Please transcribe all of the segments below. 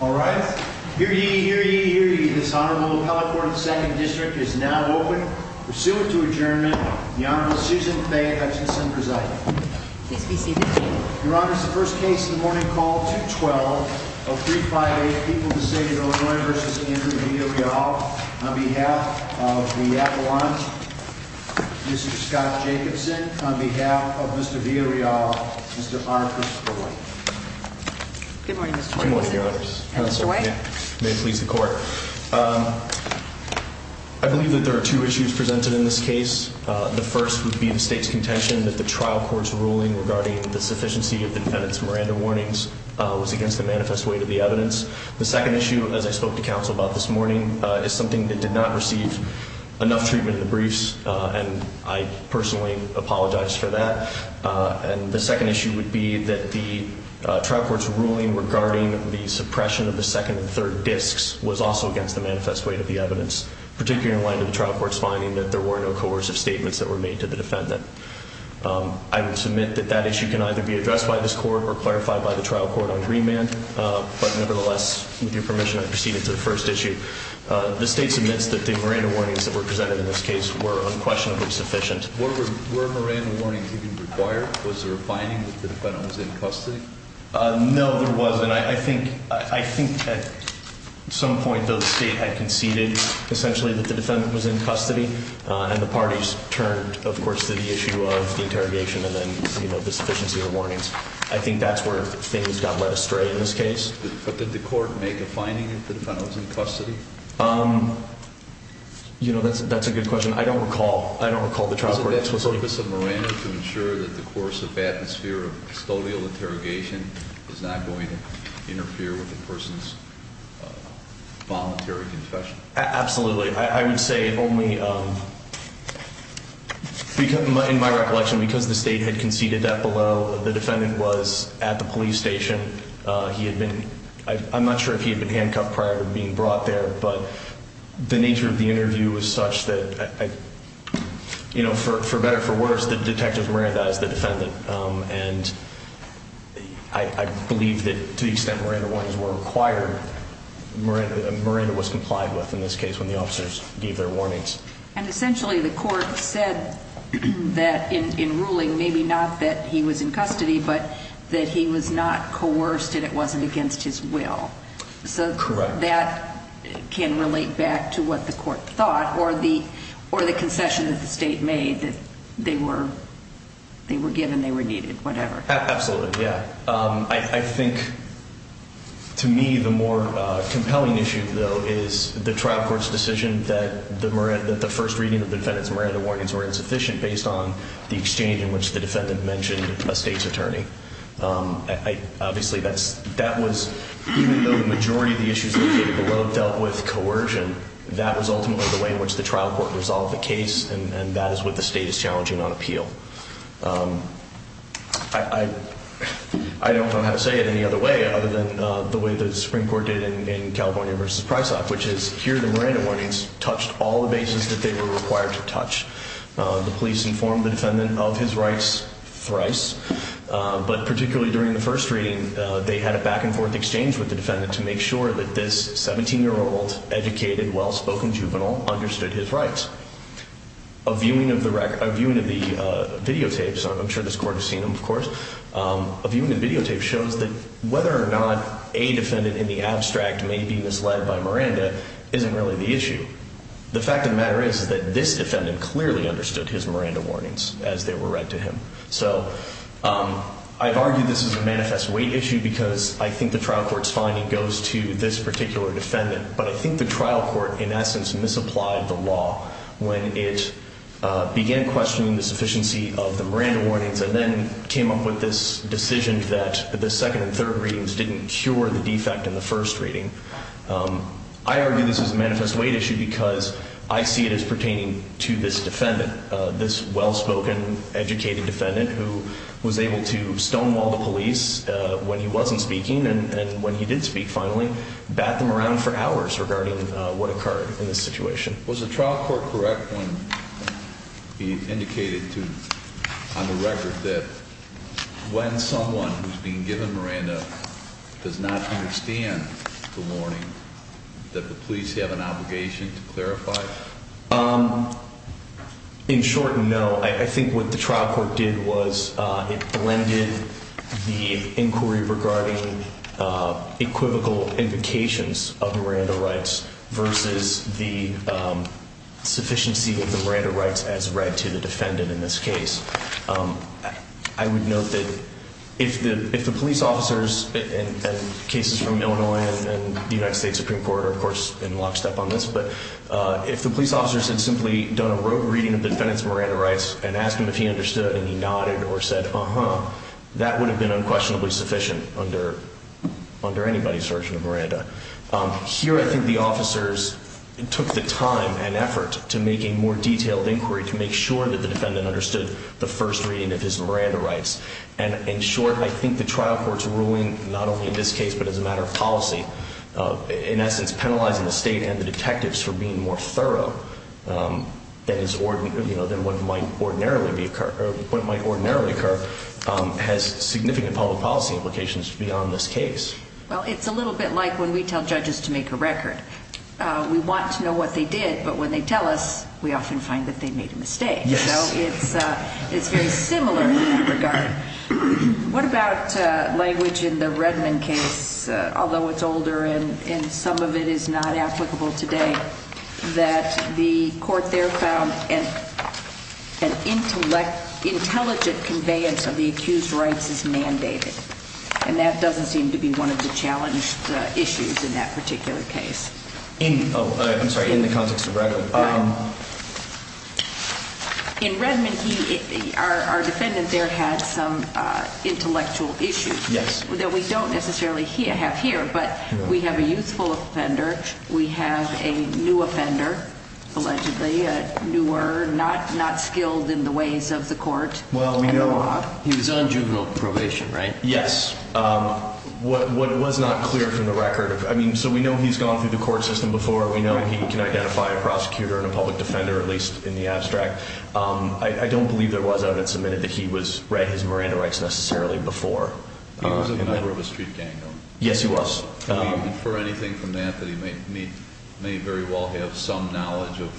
All right. Hear ye, hear ye, hear ye. This Honorable Appellate Court of the 2nd District is now open. Pursuant to adjournment, the Honorable Susan Fay Hutchinson presiding. Please be seated. Your Honor, this is the first case in the morning called 212-0358, People of the State of Illinois v. Andrew Villareal. On behalf of the Avalon, Mr. Scott Jacobson. On behalf of Mr. Villareal, Mr. R. Christopher White. Good morning, Mr. Jacobson. Good morning, Your Honor. And Mr. White. May it please the Court. I believe that there are two issues presented in this case. The first would be the State's contention that the trial court's ruling regarding the sufficiency of the defendant's Miranda warnings was against the manifest weight of the evidence. The second issue, as I spoke to counsel about this morning, is something that did not receive enough treatment in the briefs, and I personally apologize for that. And the second issue would be that the trial court's ruling regarding the suppression of the second and third disks was also against the manifest weight of the evidence, particularly in line with the trial court's finding that there were no coercive statements that were made to the defendant. I would submit that that issue can either be addressed by this Court or clarified by the trial court on Greenman, but nevertheless, with your permission, I proceed into the first issue. The State submits that the Miranda warnings that were presented in this case were unquestionably sufficient. Were Miranda warnings even required? Was there a finding that the defendant was in custody? No, there wasn't. I think at some point, though, the State had conceded, essentially, that the defendant was in custody, and the parties turned, of course, to the issue of the interrogation and then, you know, the sufficiency of the warnings. I think that's where things got led astray in this case. But did the Court make a finding that the defendant was in custody? You know, that's a good question. I don't recall. I don't recall the trial court explicitly. Was it the purpose of Miranda to ensure that the coercive atmosphere of custodial interrogation was not going to interfere with the person's voluntary confession? Absolutely. I would say only, in my recollection, because the State had conceded that below, the defendant was at the police station. He had been—I'm not sure if he had been handcuffed prior to being brought there, but the nature of the interview was such that, you know, for better or for worse, the detective mirrored that as the defendant. And I believe that to the extent Miranda warnings were required, Miranda was complied with in this case when the officers gave their warnings. And essentially, the Court said that in ruling, maybe not that he was in custody, but that he was not coerced and it wasn't against his will. Correct. That can relate back to what the Court thought or the concession that the State made, that they were given, they were needed, whatever. Absolutely, yeah. I think, to me, the more compelling issue, though, is the trial court's decision that the first reading of the defendant's Miranda warnings were insufficient based on the exchange in which the defendant mentioned a State's attorney. Obviously, that was—even though the majority of the issues located below dealt with coercion, that was ultimately the way in which the trial court resolved the case, and that is what the State is challenging on appeal. I don't know how to say it any other way other than the way the Supreme Court did in California v. Price Act, which is, here the Miranda warnings touched all the bases that they were required to touch. The police informed the defendant of his rights thrice, but particularly during the first reading, they had a back-and-forth exchange with the defendant to make sure that this 17-year-old, educated, well-spoken juvenile understood his rights. A viewing of the videotapes—I'm sure this Court has seen them, of course— a viewing of videotapes shows that whether or not a defendant in the abstract may be misled by Miranda isn't really the issue. The fact of the matter is that this defendant clearly understood his Miranda warnings as they were read to him. So I've argued this is a manifest weight issue because I think the trial court's finding goes to this particular defendant, but I think the trial court, in essence, misapplied the law when it began questioning the sufficiency of the Miranda warnings and then came up with this decision that the second and third readings didn't cure the defect in the first reading. I argue this is a manifest weight issue because I see it as pertaining to this defendant, this well-spoken, educated defendant who was able to stonewall the police when he wasn't speaking and when he did speak, finally, bat them around for hours regarding what occurred in this situation. Was the trial court correct when he indicated on the record that when someone who's being given Miranda does not understand the warning, that the police have an obligation to clarify? In short, no. I think what the trial court did was it blended the inquiry regarding equivocal indications of Miranda rights versus the sufficiency of the Miranda rights as read to the defendant in this case. I would note that if the police officers and cases from Illinois and the United States Supreme Court are, of course, in lockstep on this, but if the police officers had simply done a rote reading of the defendant's Miranda rights and asked him if he understood and he nodded or said, uh-huh, that would have been unquestionably sufficient under anybody's version of Miranda. Here, I think the officers took the time and effort to make a more detailed inquiry to make sure that the defendant understood the first reading of his Miranda rights. In short, I think the trial court's ruling, not only in this case but as a matter of policy, in essence penalizing the state and the detectives for being more thorough than what might ordinarily occur, has significant public policy implications beyond this case. Well, it's a little bit like when we tell judges to make a record. We want to know what they did, but when they tell us, we often find that they made a mistake. Yes. So it's very similar in that regard. What about language in the Redmond case, although it's older and some of it is not applicable today, that the court there found an intelligent conveyance of the accused rights is mandated? And that doesn't seem to be one of the challenged issues in that particular case. Oh, I'm sorry, in the context of Redmond. In Redmond, our defendant there had some intellectual issues. Yes. That we don't necessarily have here, but we have a youthful offender. We have a new offender, allegedly newer, not skilled in the ways of the court. Well, we know he was on juvenile probation, right? Yes. What was not clear from the record, I mean, so we know he's gone through the court system before. We know he can identify a prosecutor and a public defender, at least in the abstract. I don't believe there was evidence submitted that he had his Miranda rights necessarily before. He was a member of a street gang, though. Yes, he was. Can we infer anything from that that he may very well have some knowledge of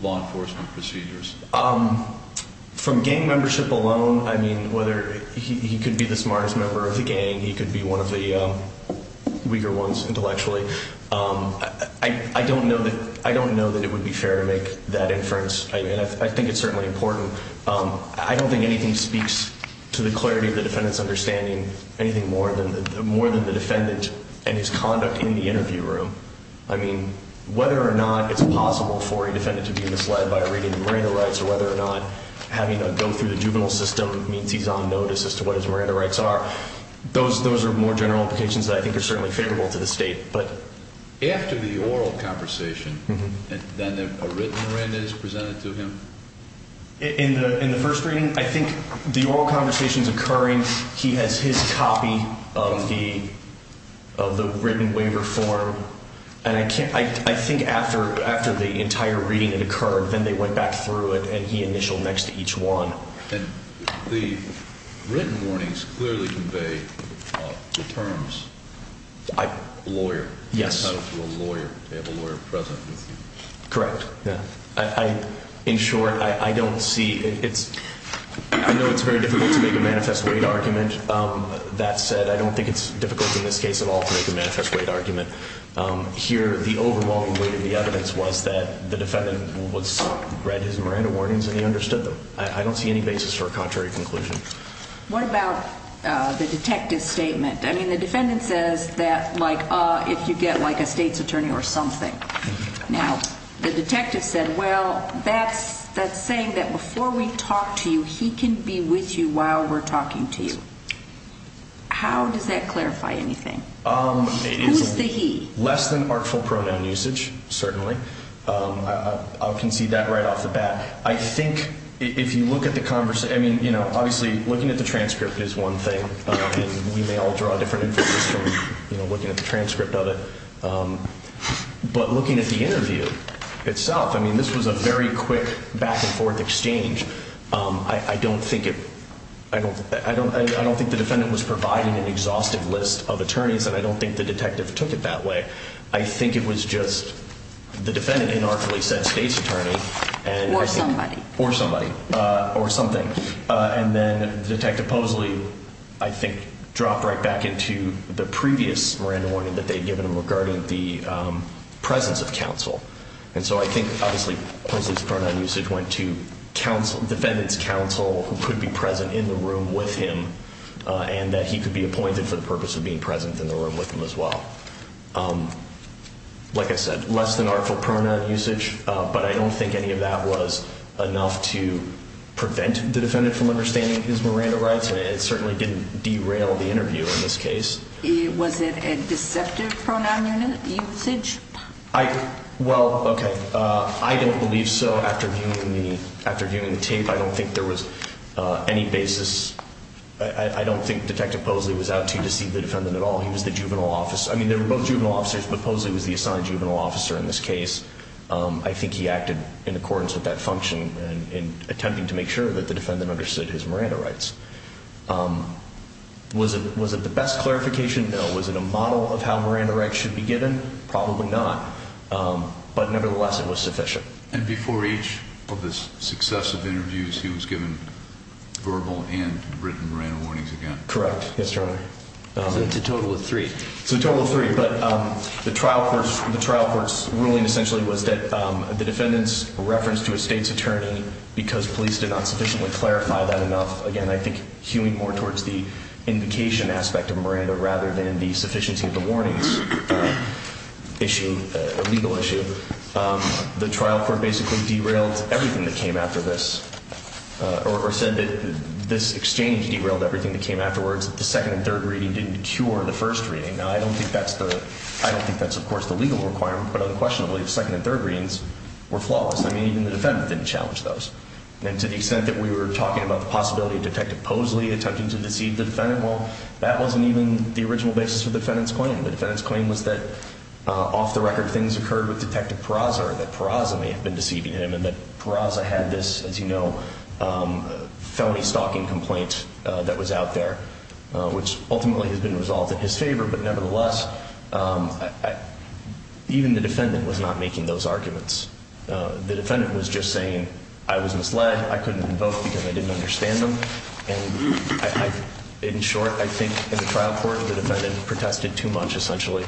law enforcement procedures? From gang membership alone, I mean, whether he could be the smartest member of the gang, he could be one of the weaker ones intellectually. I don't know that it would be fair to make that inference. I think it's certainly important. I don't think anything speaks to the clarity of the defendant's understanding, anything more than the defendant and his conduct in the interview room. I mean, whether or not it's possible for a defendant to be misled by a reading of Miranda rights or whether or not having to go through the juvenile system means he's on notice as to what his Miranda rights are, those are more general implications that I think are certainly favorable to the State. After the oral conversation, then a written Miranda is presented to him? In the first reading, I think the oral conversation is occurring. He has his copy of the written waiver form, and I think after the entire reading it occurred, then they went back through it and he initialed next to each one. And the written warnings clearly convey the terms lawyer. Yes. They have a lawyer present with you. Correct. In short, I know it's very difficult to make a manifest weight argument. That said, I don't think it's difficult in this case at all to make a manifest weight argument. Here, the overall weight of the evidence was that the defendant read his Miranda warnings and he understood them. I don't see any basis for a contrary conclusion. What about the detective's statement? I mean, the defendant says that if you get a state's attorney or something. Now, the detective said, well, that's saying that before we talk to you, he can be with you while we're talking to you. How does that clarify anything? Who's the he? Less than artful pronoun usage, certainly. I'll concede that right off the bat. I think if you look at the conversation, I mean, you know, obviously looking at the transcript is one thing. We may all draw different from, you know, looking at the transcript of it. But looking at the interview itself, I mean, this was a very quick back and forth exchange. I don't think it I don't I don't I don't think the defendant was providing an exhaustive list of attorneys. And I don't think the detective took it that way. I think it was just the defendant inartfully said state's attorney or somebody or somebody or something. And then Detective Posley, I think, dropped right back into the previous Miranda warning that they'd given him regarding the presence of counsel. And so I think, obviously, his pronoun usage went to counsel defendants, counsel who could be present in the room with him, and that he could be appointed for the purpose of being present in the room with him as well. Like I said, less than artful pronoun usage. But I don't think any of that was enough to prevent the defendant from understanding his Miranda rights. And it certainly didn't derail the interview in this case. Was it a deceptive pronoun usage? I well, OK, I don't believe so. After viewing the tape, I don't think there was any basis. I don't think Detective Posley was out to deceive the defendant at all. He was the juvenile officer. I mean, they were both juvenile officers, but Posley was the assigned juvenile officer in this case. I think he acted in accordance with that function in attempting to make sure that the defendant understood his Miranda rights. Was it the best clarification? No. Was it a model of how Miranda rights should be given? Probably not. But nevertheless, it was sufficient. And before each of the successive interviews, he was given verbal and written Miranda warnings again? Correct. Yes, Your Honor. So it's a total of three. It's a total of three. But the trial court's ruling essentially was that the defendant's reference to a state's attorney, because police did not sufficiently clarify that enough, again, I think hewing more towards the invocation aspect of Miranda rather than the sufficiency of the warnings issue, legal issue, the trial court basically derailed everything that came after this, or said that this exchange derailed everything that came afterwards. The second and third reading didn't cure the first reading. Now, I don't think that's, of course, the legal requirement, but unquestionably, the second and third readings were flawless. I mean, even the defendant didn't challenge those. And to the extent that we were talking about the possibility of Detective Posley attempting to deceive the defendant, well, that wasn't even the original basis for the defendant's claim. The defendant's claim was that, off the record, things occurred with Detective Peraza or that Peraza may have been deceiving him and that Peraza had this, as you know, felony stalking complaint that was out there, which ultimately has been resolved in his favor. But nevertheless, even the defendant was not making those arguments. The defendant was just saying, I was misled. I couldn't invoke because I didn't understand them. And in short, I think in the trial court, the defendant protested too much, essentially.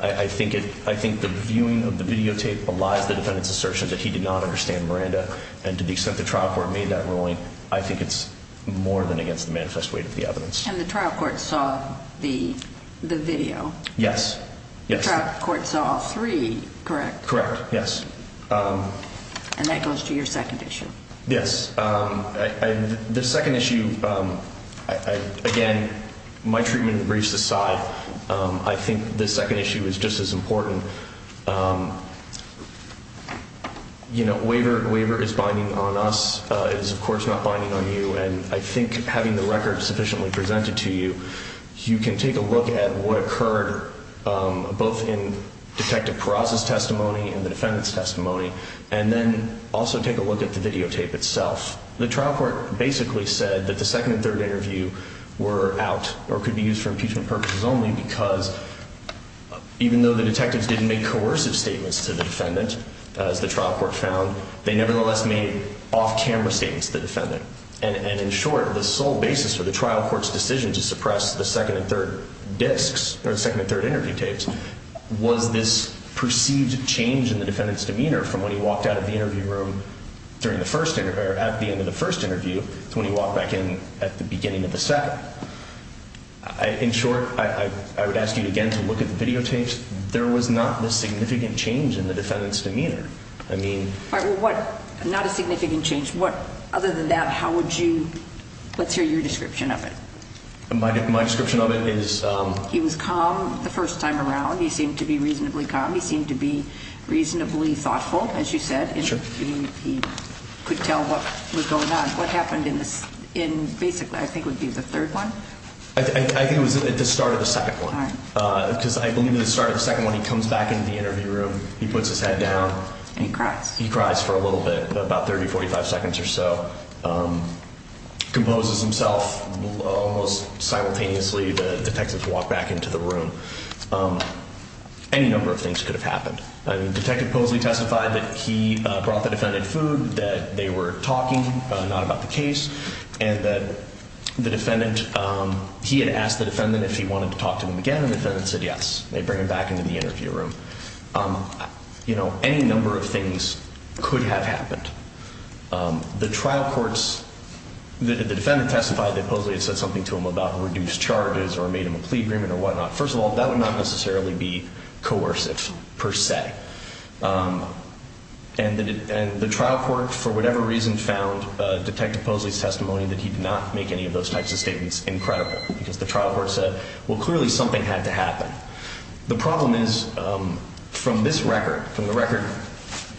I think the viewing of the videotape belies the defendant's assertion that he did not understand Miranda. And to the extent the trial court made that ruling, I think it's more than against the manifest weight of the evidence. And the trial court saw the video? Yes. The trial court saw all three, correct? Correct, yes. And that goes to your second issue. Yes. The second issue, again, my treatment of the briefs aside, I think the second issue is just as important. You know, waiver is binding on us. It is, of course, not binding on you. And I think having the record sufficiently presented to you, you can take a look at what occurred both in Detective Peraza's testimony and the defendant's testimony and then also take a look at the videotape itself. The trial court basically said that the second and third interview were out or could be used for impeachment purposes only because even though the detectives didn't make coercive statements to the defendant, as the trial court found, they nevertheless made off-camera statements to the defendant. And in short, the sole basis for the trial court's decision to suppress the second and third disks or the second and third interview tapes was this perceived change in the defendant's demeanor from when he walked out of the interview room at the end of the first interview to when he walked back in at the beginning of the second. In short, I would ask you again to look at the videotapes. There was not a significant change in the defendant's demeanor. All right. Well, not a significant change. Other than that, how would you – let's hear your description of it. My description of it is – Well, he was calm the first time around. He seemed to be reasonably calm. He seemed to be reasonably thoughtful, as you said. Sure. He could tell what was going on. What happened in basically I think would be the third one? I think it was at the start of the second one. All right. Because I believe at the start of the second one, he comes back into the interview room. He puts his head down. And he cries. He cries for a little bit, about 30, 45 seconds or so. Composes himself. Almost simultaneously, the detectives walk back into the room. Any number of things could have happened. Detective Posley testified that he brought the defendant food, that they were talking, not about the case, and that the defendant – he had asked the defendant if he wanted to talk to him again, and the defendant said yes. They bring him back into the interview room. Any number of things could have happened. The trial courts – the defendant testified that Posley had said something to him about reduced charges or made him a plea agreement or whatnot. First of all, that would not necessarily be coercive per se. And the trial court for whatever reason found Detective Posley's testimony that he did not make any of those types of statements incredible because the trial court said, well, clearly something had to happen. The problem is from this record, from the record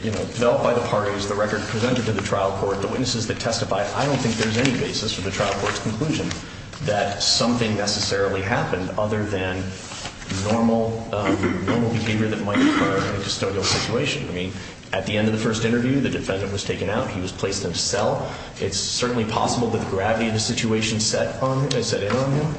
developed by the parties, the record presented to the trial court, the witnesses that testified, I don't think there's any basis for the trial court's conclusion that something necessarily happened other than normal behavior that might occur in a custodial situation. I mean, at the end of the first interview, the defendant was taken out. He was placed in a cell. It's certainly possible that the gravity of the situation set in on him,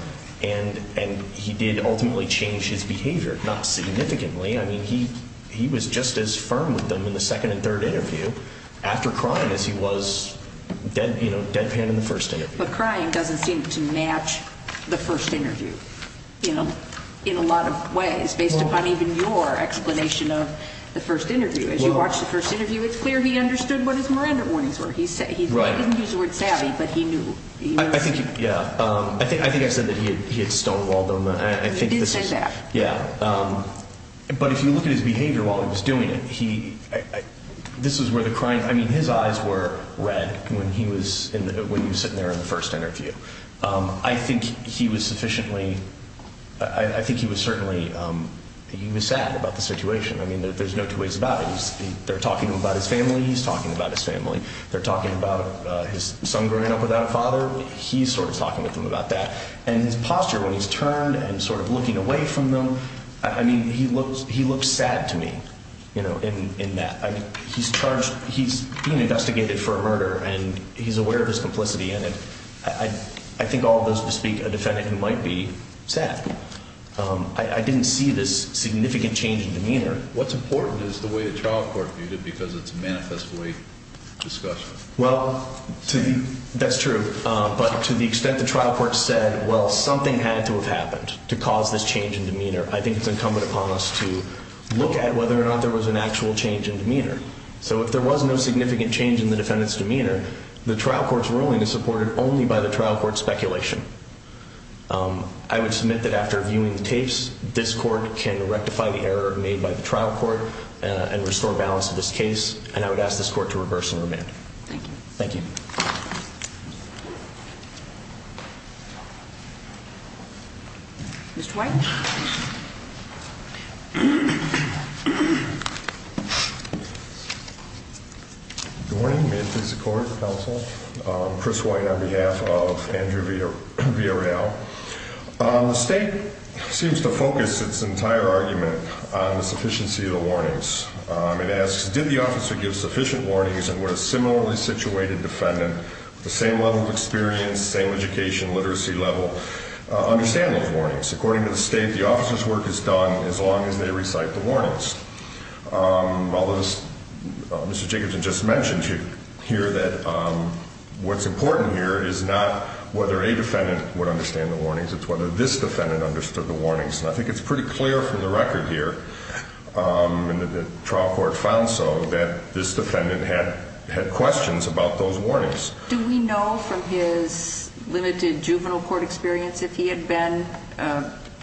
and he did ultimately change his behavior, not significantly. I mean, he was just as firm with them in the second and third interview after crying as he was deadpan in the first interview. But crying doesn't seem to match the first interview in a lot of ways based upon even your explanation of the first interview. As you watched the first interview, it's clear he understood what his Miranda warnings were. He didn't use the word savvy, but he knew. I think I said that he had stonewalled them. He did say that. Yeah. But if you look at his behavior while he was doing it, this is where the crying— I mean, his eyes were red when he was sitting there in the first interview. I think he was sufficiently—I think he was certainly—he was sad about the situation. I mean, there's no two ways about it. They're talking about his family. He's talking about his family. They're talking about his son growing up without a father. He's sort of talking with them about that. And his posture when he's turned and sort of looking away from them, I mean, he looked sad to me in that. He's being investigated for a murder, and he's aware of his complicity in it. I think all of those bespeak a defendant who might be sad. I didn't see this significant change in demeanor. What's important is the way the trial court viewed it because it's a manifest way of discussion. Well, that's true. But to the extent the trial court said, well, something had to have happened to cause this change in demeanor, I think it's incumbent upon us to look at whether or not there was an actual change in demeanor. So if there was no significant change in the defendant's demeanor, the trial court's ruling is supported only by the trial court's speculation. I would submit that after viewing the tapes, this court can rectify the error made by the trial court and restore balance to this case, and I would ask this court to reverse and remand. Thank you. Thank you. Thank you. Mr. White. Good morning. May it please the court, the counsel. Chris White on behalf of Andrew Villarreal. The state seems to focus its entire argument on the sufficiency of the warnings. It asks, did the officer give sufficient warnings, and would a similarly situated defendant with the same level of experience, same education, literacy level, understand those warnings? According to the state, the officer's work is done as long as they recite the warnings. Although, as Mr. Jacobson just mentioned here, that what's important here is not whether a defendant would understand the warnings. It's whether this defendant understood the warnings, and I think it's pretty clear from the record here and the trial court found so, that this defendant had questions about those warnings. Do we know from his limited juvenile court experience if he had been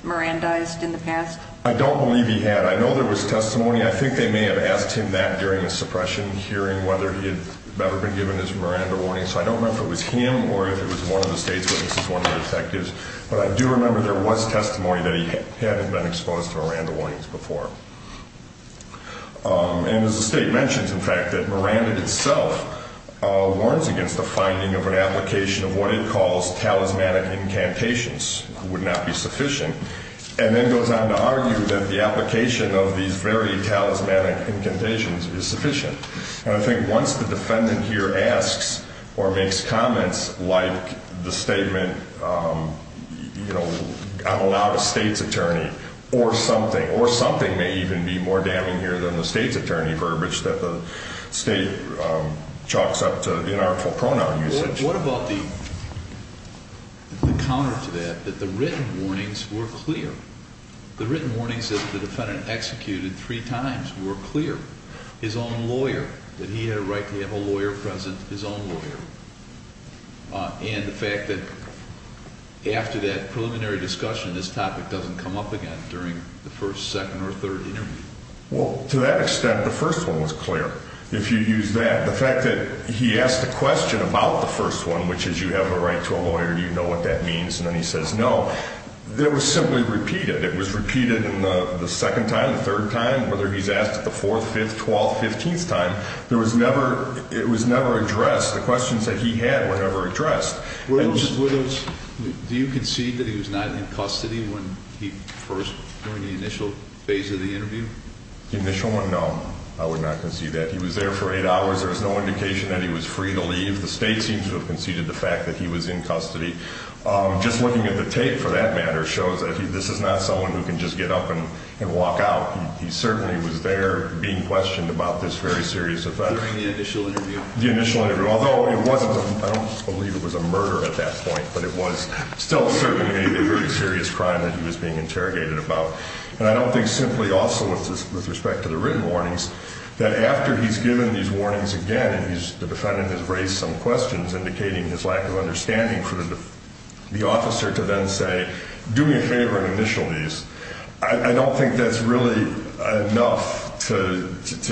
Mirandized in the past? I don't believe he had. I know there was testimony. I think they may have asked him that during the suppression, hearing whether he had ever been given his Miranda warnings, so I don't remember if it was him or if it was one of the state's witnesses, one of the detectives, but I do remember there was testimony that he hadn't been exposed to Miranda warnings before. And as the state mentions, in fact, that Miranda itself warns against the finding of an application of what it calls talismanic incantations, would not be sufficient, and then goes on to argue that the application of these very talismanic incantations is sufficient. And I think once the defendant here asks or makes comments like the statement, you know, I'm allowed a state's attorney or something, or something may even be more damning here than the state's attorney verbiage that the state chalks up to inartful pronoun usage. What about the counter to that, that the written warnings were clear? The written warnings that the defendant executed three times were clear. His own lawyer, that he had a right to have a lawyer present, his own lawyer. And the fact that after that preliminary discussion, this topic doesn't come up again during the first, second, or third interview. Well, to that extent, the first one was clear. If you use that, the fact that he asked a question about the first one, which is you have a right to a lawyer, you know what that means, and then he says no, that was simply repeated. It was repeated in the second time, the third time, whether he's asked it the fourth, fifth, twelfth, fifteenth time. It was never addressed. The questions that he had were never addressed. Do you concede that he was not in custody when he first, during the initial phase of the interview? The initial one, no, I would not concede that. He was there for eight hours. There was no indication that he was free to leave. The state seems to have conceded the fact that he was in custody. Just looking at the tape, for that matter, shows that this is not someone who can just get up and walk out. He certainly was there being questioned about this very serious offense. During the initial interview? The initial interview, although it wasn't, I don't believe it was a murder at that point, but it was still certainly a very serious crime that he was being interrogated about. And I don't think simply also with respect to the written warnings, that after he's given these warnings again, the defendant has raised some questions indicating his lack of understanding for the officer to then say, do me a favor and initial these. I don't think that's really enough to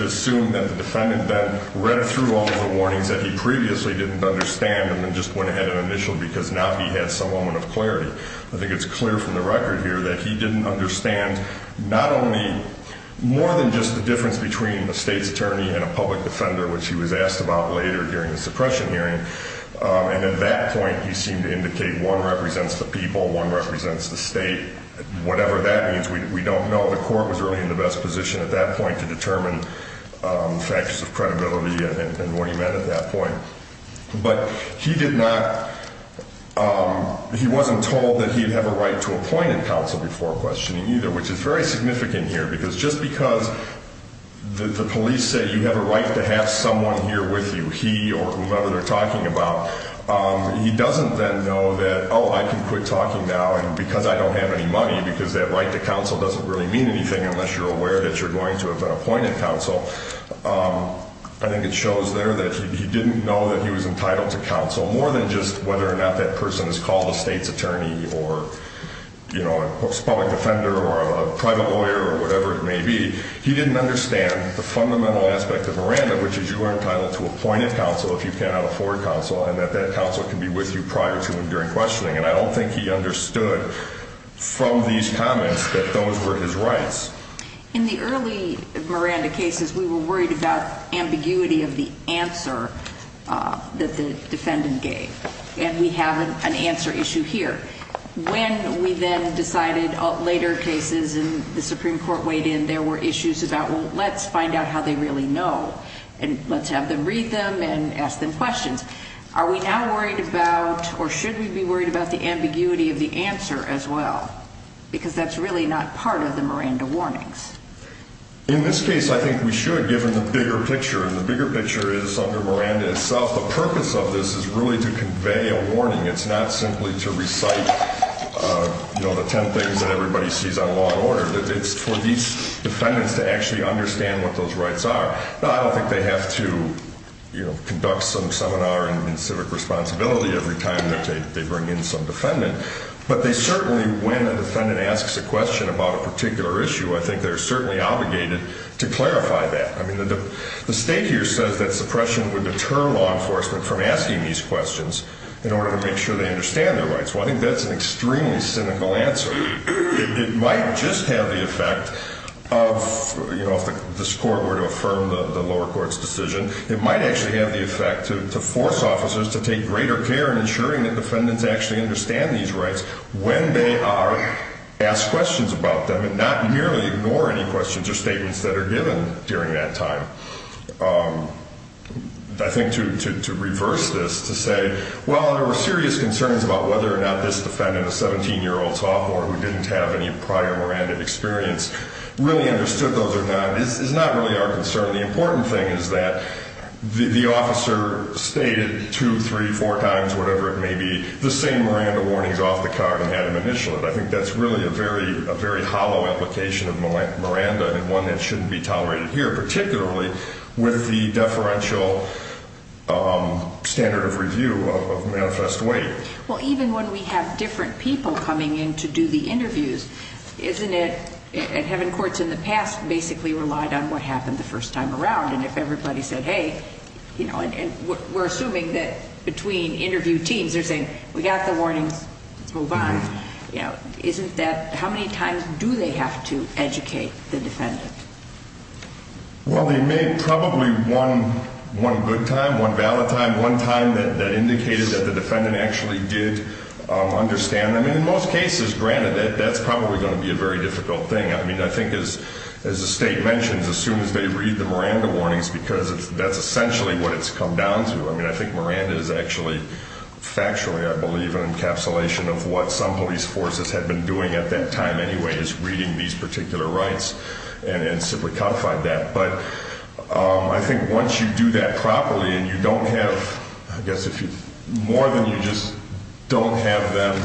assume that the defendant then read through all of the warnings that he previously didn't understand and then just went ahead and initialed because now he had some moment of clarity. I think it's clear from the record here that he didn't understand not only, more than just the difference between the state's attorney and a public defender, which he was asked about later during the suppression hearing. And at that point, he seemed to indicate one represents the people, one represents the state. Whatever that means, we don't know. The court was really in the best position at that point to determine factors of credibility and what he meant at that point. But he did not, he wasn't told that he'd have a right to appoint a counsel before questioning either, which is very significant here because just because the police say you have a right to have someone here with you, he or whomever they're talking about, he doesn't then know that, oh, I can quit talking now and because I don't have any money, because that right to counsel doesn't really mean anything unless you're aware that you're going to have an appointed counsel. I think it shows there that he didn't know that he was entitled to counsel, more than just whether or not that person is called a state's attorney or a public defender or a private lawyer or whatever it may be. He didn't understand the fundamental aspect of Miranda, which is you are entitled to appointed counsel if you cannot afford counsel and that that counsel can be with you prior to and during questioning. And I don't think he understood from these comments that those were his rights. In the early Miranda cases, we were worried about ambiguity of the answer that the defendant gave, and we have an answer issue here. When we then decided later cases and the Supreme Court weighed in, there were issues about, well, let's find out how they really know and let's have them read them and ask them questions. Are we now worried about or should we be worried about the ambiguity of the answer as well? Because that's really not part of the Miranda warnings. In this case, I think we should, given the bigger picture, and the bigger picture is under Miranda itself. The purpose of this is really to convey a warning. It's not simply to recite the ten things that everybody sees on law and order. It's for these defendants to actually understand what those rights are. Now, I don't think they have to conduct some seminar in civic responsibility every time that they bring in some defendant, but they certainly, when a defendant asks a question about a particular issue, I think they're certainly obligated to clarify that. I mean, the state here says that suppression would deter law enforcement from asking these questions in order to make sure they understand their rights. Well, I think that's an extremely cynical answer. It might just have the effect of, you know, if this court were to affirm the lower court's decision, it might actually have the effect to force officers to take greater care in ensuring that defendants actually understand these rights when they are asked questions about them and not merely ignore any questions or statements that are given during that time. I think to reverse this, to say, well, there were serious concerns about whether or not this defendant, a 17-year-old sophomore who didn't have any prior Miranda experience, really understood those or not, is not really our concern. The important thing is that the officer stated two, three, four times, whatever it may be, the same Miranda warnings off the card and had him initial it. I think that's really a very hollow application of Miranda and one that shouldn't be tolerated here, particularly with the deferential standard of review of manifest weight. Well, even when we have different people coming in to do the interviews, isn't it, and having courts in the past basically relied on what happened the first time around, and if everybody said, hey, you know, and we're assuming that between interview teams, they're saying, we got the warnings, let's move on. You know, isn't that, how many times do they have to educate the defendant? Well, they made probably one good time, one valid time, one time that indicated that the defendant actually did understand them. And in most cases, granted, that's probably going to be a very difficult thing. I mean, I think as the state mentions, as soon as they read the Miranda warnings, because that's essentially what it's come down to. I mean, I think Miranda is actually factually, I believe, an encapsulation of what some police forces had been doing at that time anyway, just reading these particular rights and simply codified that. But I think once you do that properly and you don't have, I guess, more than you just don't have them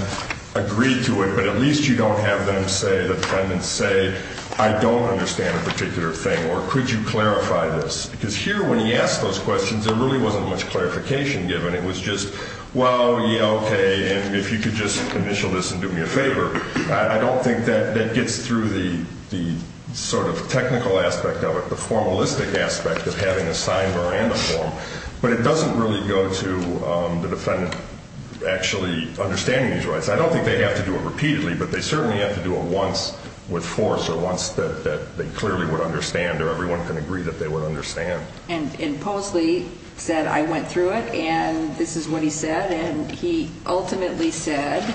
agree to it, but at least you don't have them say, the defendants say, I don't understand a particular thing, or could you clarify this? Because here, when he asked those questions, there really wasn't much clarification given. It was just, well, yeah, okay, and if you could just initial this and do me a favor. I don't think that gets through the sort of technical aspect of it, the formalistic aspect of having a signed Miranda form. But it doesn't really go to the defendant actually understanding these rights. I don't think they have to do it repeatedly, but they certainly have to do it once with force or once that they clearly would understand or everyone can agree that they would understand. And Posley said, I went through it, and this is what he said. And he ultimately said,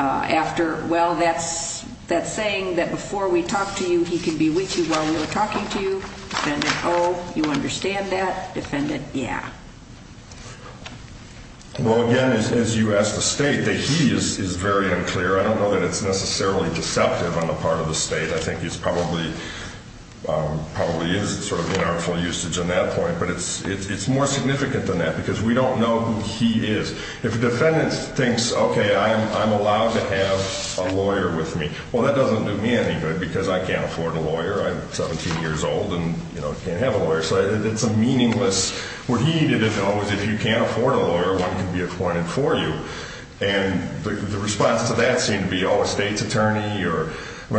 after, well, that's saying that before we talked to you, he could be with you while we were talking to you. Defendant, oh, you understand that. Defendant, yeah. Well, again, as you asked the State, the he is very unclear. I don't know that it's necessarily deceptive on the part of the State. I think it probably is sort of in our full usage on that point. But it's more significant than that because we don't know who he is. If a defendant thinks, okay, I'm allowed to have a lawyer with me, well, that doesn't do me any good because I can't afford a lawyer. I'm 17 years old and can't have a lawyer. So it's a meaningless, what he didn't know is if you can't afford a lawyer, one can be appointed for you. And the response to that seemed to be, oh, a State's attorney. I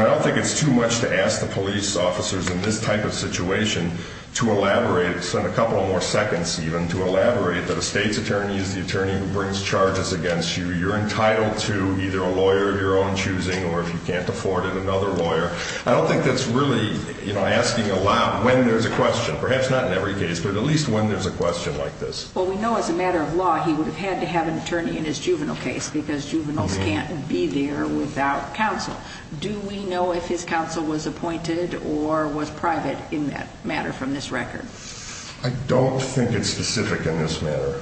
don't think it's too much to ask the police officers in this type of situation to elaborate, spend a couple more seconds even, to elaborate that a State's attorney is the attorney who brings charges against you. You're entitled to either a lawyer of your own choosing or if you can't afford it, another lawyer. I don't think that's really asking a lot when there's a question. Perhaps not in every case, but at least when there's a question like this. Well, we know as a matter of law he would have had to have an attorney in his juvenile case because juveniles can't be there without counsel. Do we know if his counsel was appointed or was private in that matter from this record? I don't think it's specific in this matter.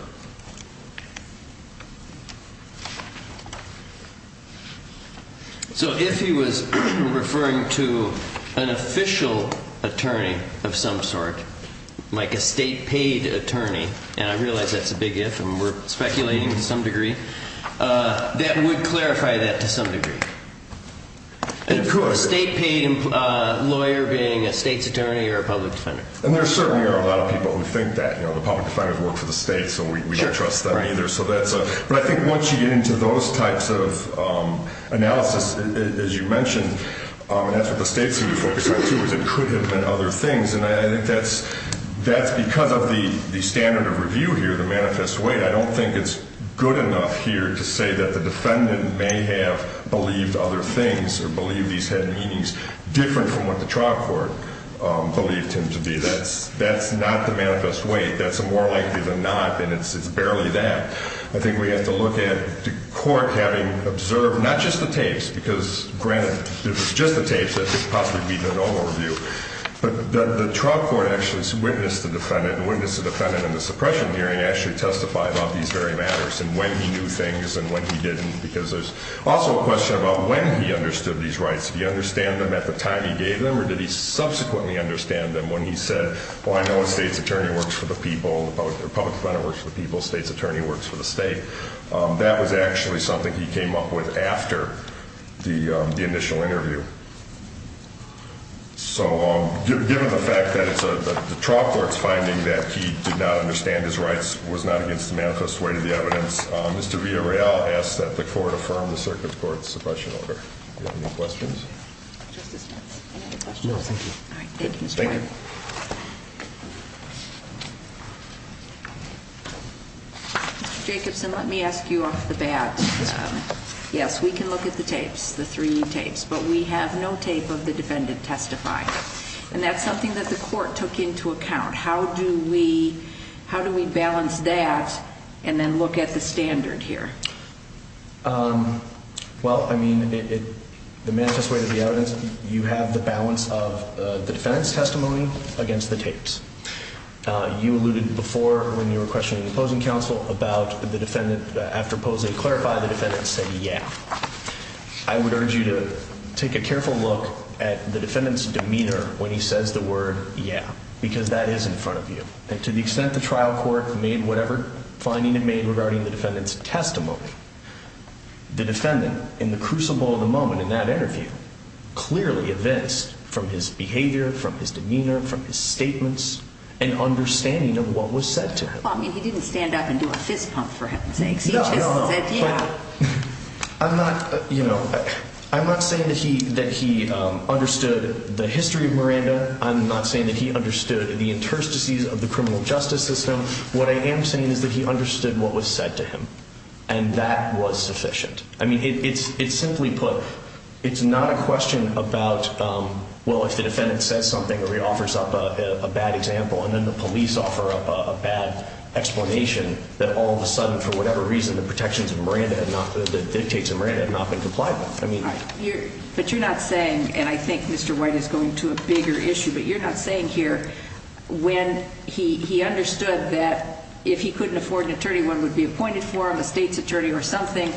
So if he was referring to an official attorney of some sort, like a State-paid attorney, and I realize that's a big if, and we're speculating to some degree, that would clarify that to some degree. Of course. A State-paid lawyer being a State's attorney or a public defender. And there certainly are a lot of people who think that. The public defenders work for the State, so we don't trust them either. But I think once you get into those types of analysis, as you mentioned, and that's what the State seemed to focus on too, is it could have been other things. And I think that's because of the standard of review here, the manifest way. I don't think it's good enough here to say that the defendant may have believed other things or believed these had meanings different from what the trial court believed him to be. That's not the manifest way. That's more likely than not, and it's barely that. I think we have to look at the court having observed not just the tapes, because granted, if it's just the tapes, that could possibly be the normal review. But the trial court actually witnessed the defendant, and witnessed the defendant in the suppression hearing actually testify about these very matters and when he knew things and when he didn't, because there's also a question about when he understood these rights. Did he understand them at the time he gave them, or did he subsequently understand them when he said, well, I know a State's attorney works for the people, the public defender works for the people, State's attorney works for the State. That was actually something he came up with after the initial interview. So given the fact that the trial court's finding that he did not understand his rights was not against the manifest way to the evidence, Mr. Villarreal asked that the court affirm the circuit court's suppression order. Any questions? Justice Stentz, any other questions? No, thank you. All right, thank you, Mr. White. Thank you. Mr. Jacobson, let me ask you off the bat. Yes, we can look at the tapes, the three tapes, but we have no tape of the defendant testifying. And that's something that the court took into account. How do we balance that and then look at the standard here? Well, I mean, the manifest way to the evidence, you have the balance of the defendant's testimony against the tapes. You alluded before when you were questioning the opposing counsel about the defendant, after Posey clarified, the defendant said, yeah. I would urge you to take a careful look at the defendant's demeanor when he says the word yeah, because that is in front of you. And to the extent the trial court made whatever finding it made regarding the defendant's testimony, the defendant in the crucible of the moment in that interview clearly evinced from his behavior, from his demeanor, from his statements, an understanding of what was said to him. Well, I mean, he didn't stand up and do a fist pump for him. No, no, no. He just said yeah. I'm not saying that he understood the history of Miranda. I'm not saying that he understood the interstices of the criminal justice system. What I am saying is that he understood what was said to him, and that was sufficient. I mean, it's simply put, it's not a question about, well, if the defendant says something or he offers up a bad example and then the police offer up a bad explanation, that all of a sudden for whatever reason the protections of Miranda, the dictates of Miranda have not been complied with. But you're not saying, and I think Mr. White is going to a bigger issue, but you're not saying here when he understood that if he couldn't afford an attorney, one would be appointed for him, a state's attorney or something,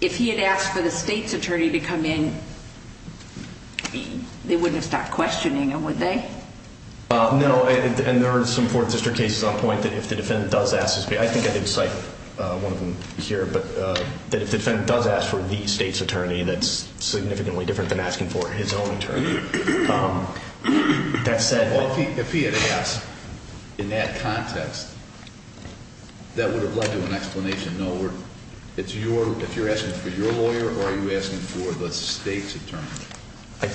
if he had asked for the state's attorney to come in, they wouldn't have stopped questioning him, would they? No, and there are some Fourth District cases on point that if the defendant does ask, I think I did cite one of them here, but if the defendant does ask for the state's attorney, that's significantly different than asking for his own attorney. If he had asked in that context, that would have led to an explanation. No, if you're asking for your lawyer or are you asking for the state's attorney? I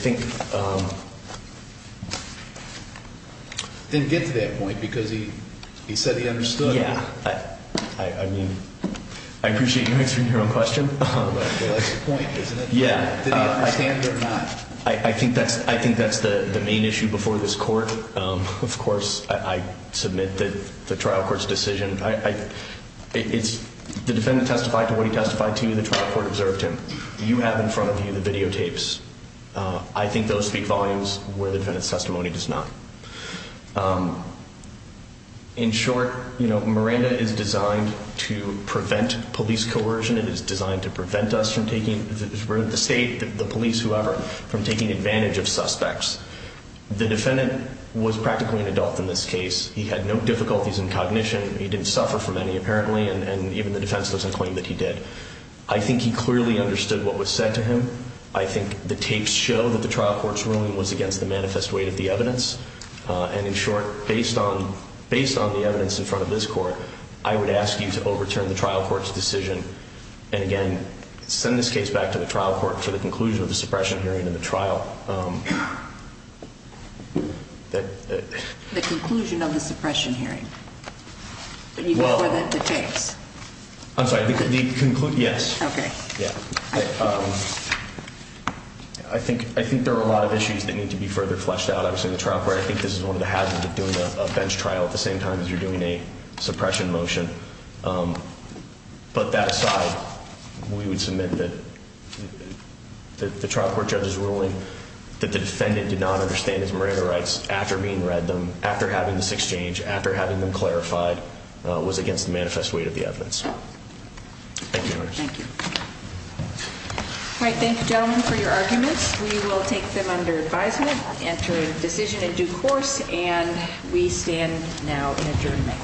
didn't get to that point because he said he understood. Yeah, I appreciate you answering your own question. But that's the point, isn't it? Yeah. Did he understand or not? I think that's the main issue before this court. Of course, I submit that the trial court's decision, the defendant testified to what he testified to, the trial court observed him. You have in front of you the videotapes. I think those speak volumes where the defendant's testimony does not. In short, Miranda is designed to prevent police coercion. It is designed to prevent us from taking the state, the police, whoever, from taking advantage of suspects. The defendant was practically an adult in this case. He had no difficulties in cognition. He didn't suffer from any, apparently, and even the defense doesn't claim that he did. I think he clearly understood what was said to him. I think the tapes show that the trial court's ruling was against the manifest weight of the evidence. And, in short, based on the evidence in front of this court, I would ask you to overturn the trial court's decision and, again, send this case back to the trial court for the conclusion of the suppression hearing and the trial. The conclusion of the suppression hearing? You mean the tapes? I'm sorry, the conclusion, yes. Okay. Yeah. I think there are a lot of issues that need to be further fleshed out. Obviously, in the trial court, I think this is one of the hazards of doing a bench trial at the same time as you're doing a suppression motion. But that aside, we would submit that the trial court judge's ruling that the defendant did not understand his Miranda rights after having this exchange, after having them clarified, was against the manifest weight of the evidence. Thank you. Thank you. All right, thank you, gentlemen, for your arguments. We will take them under advisement, enter a decision in due course, and we stand now in adjournment.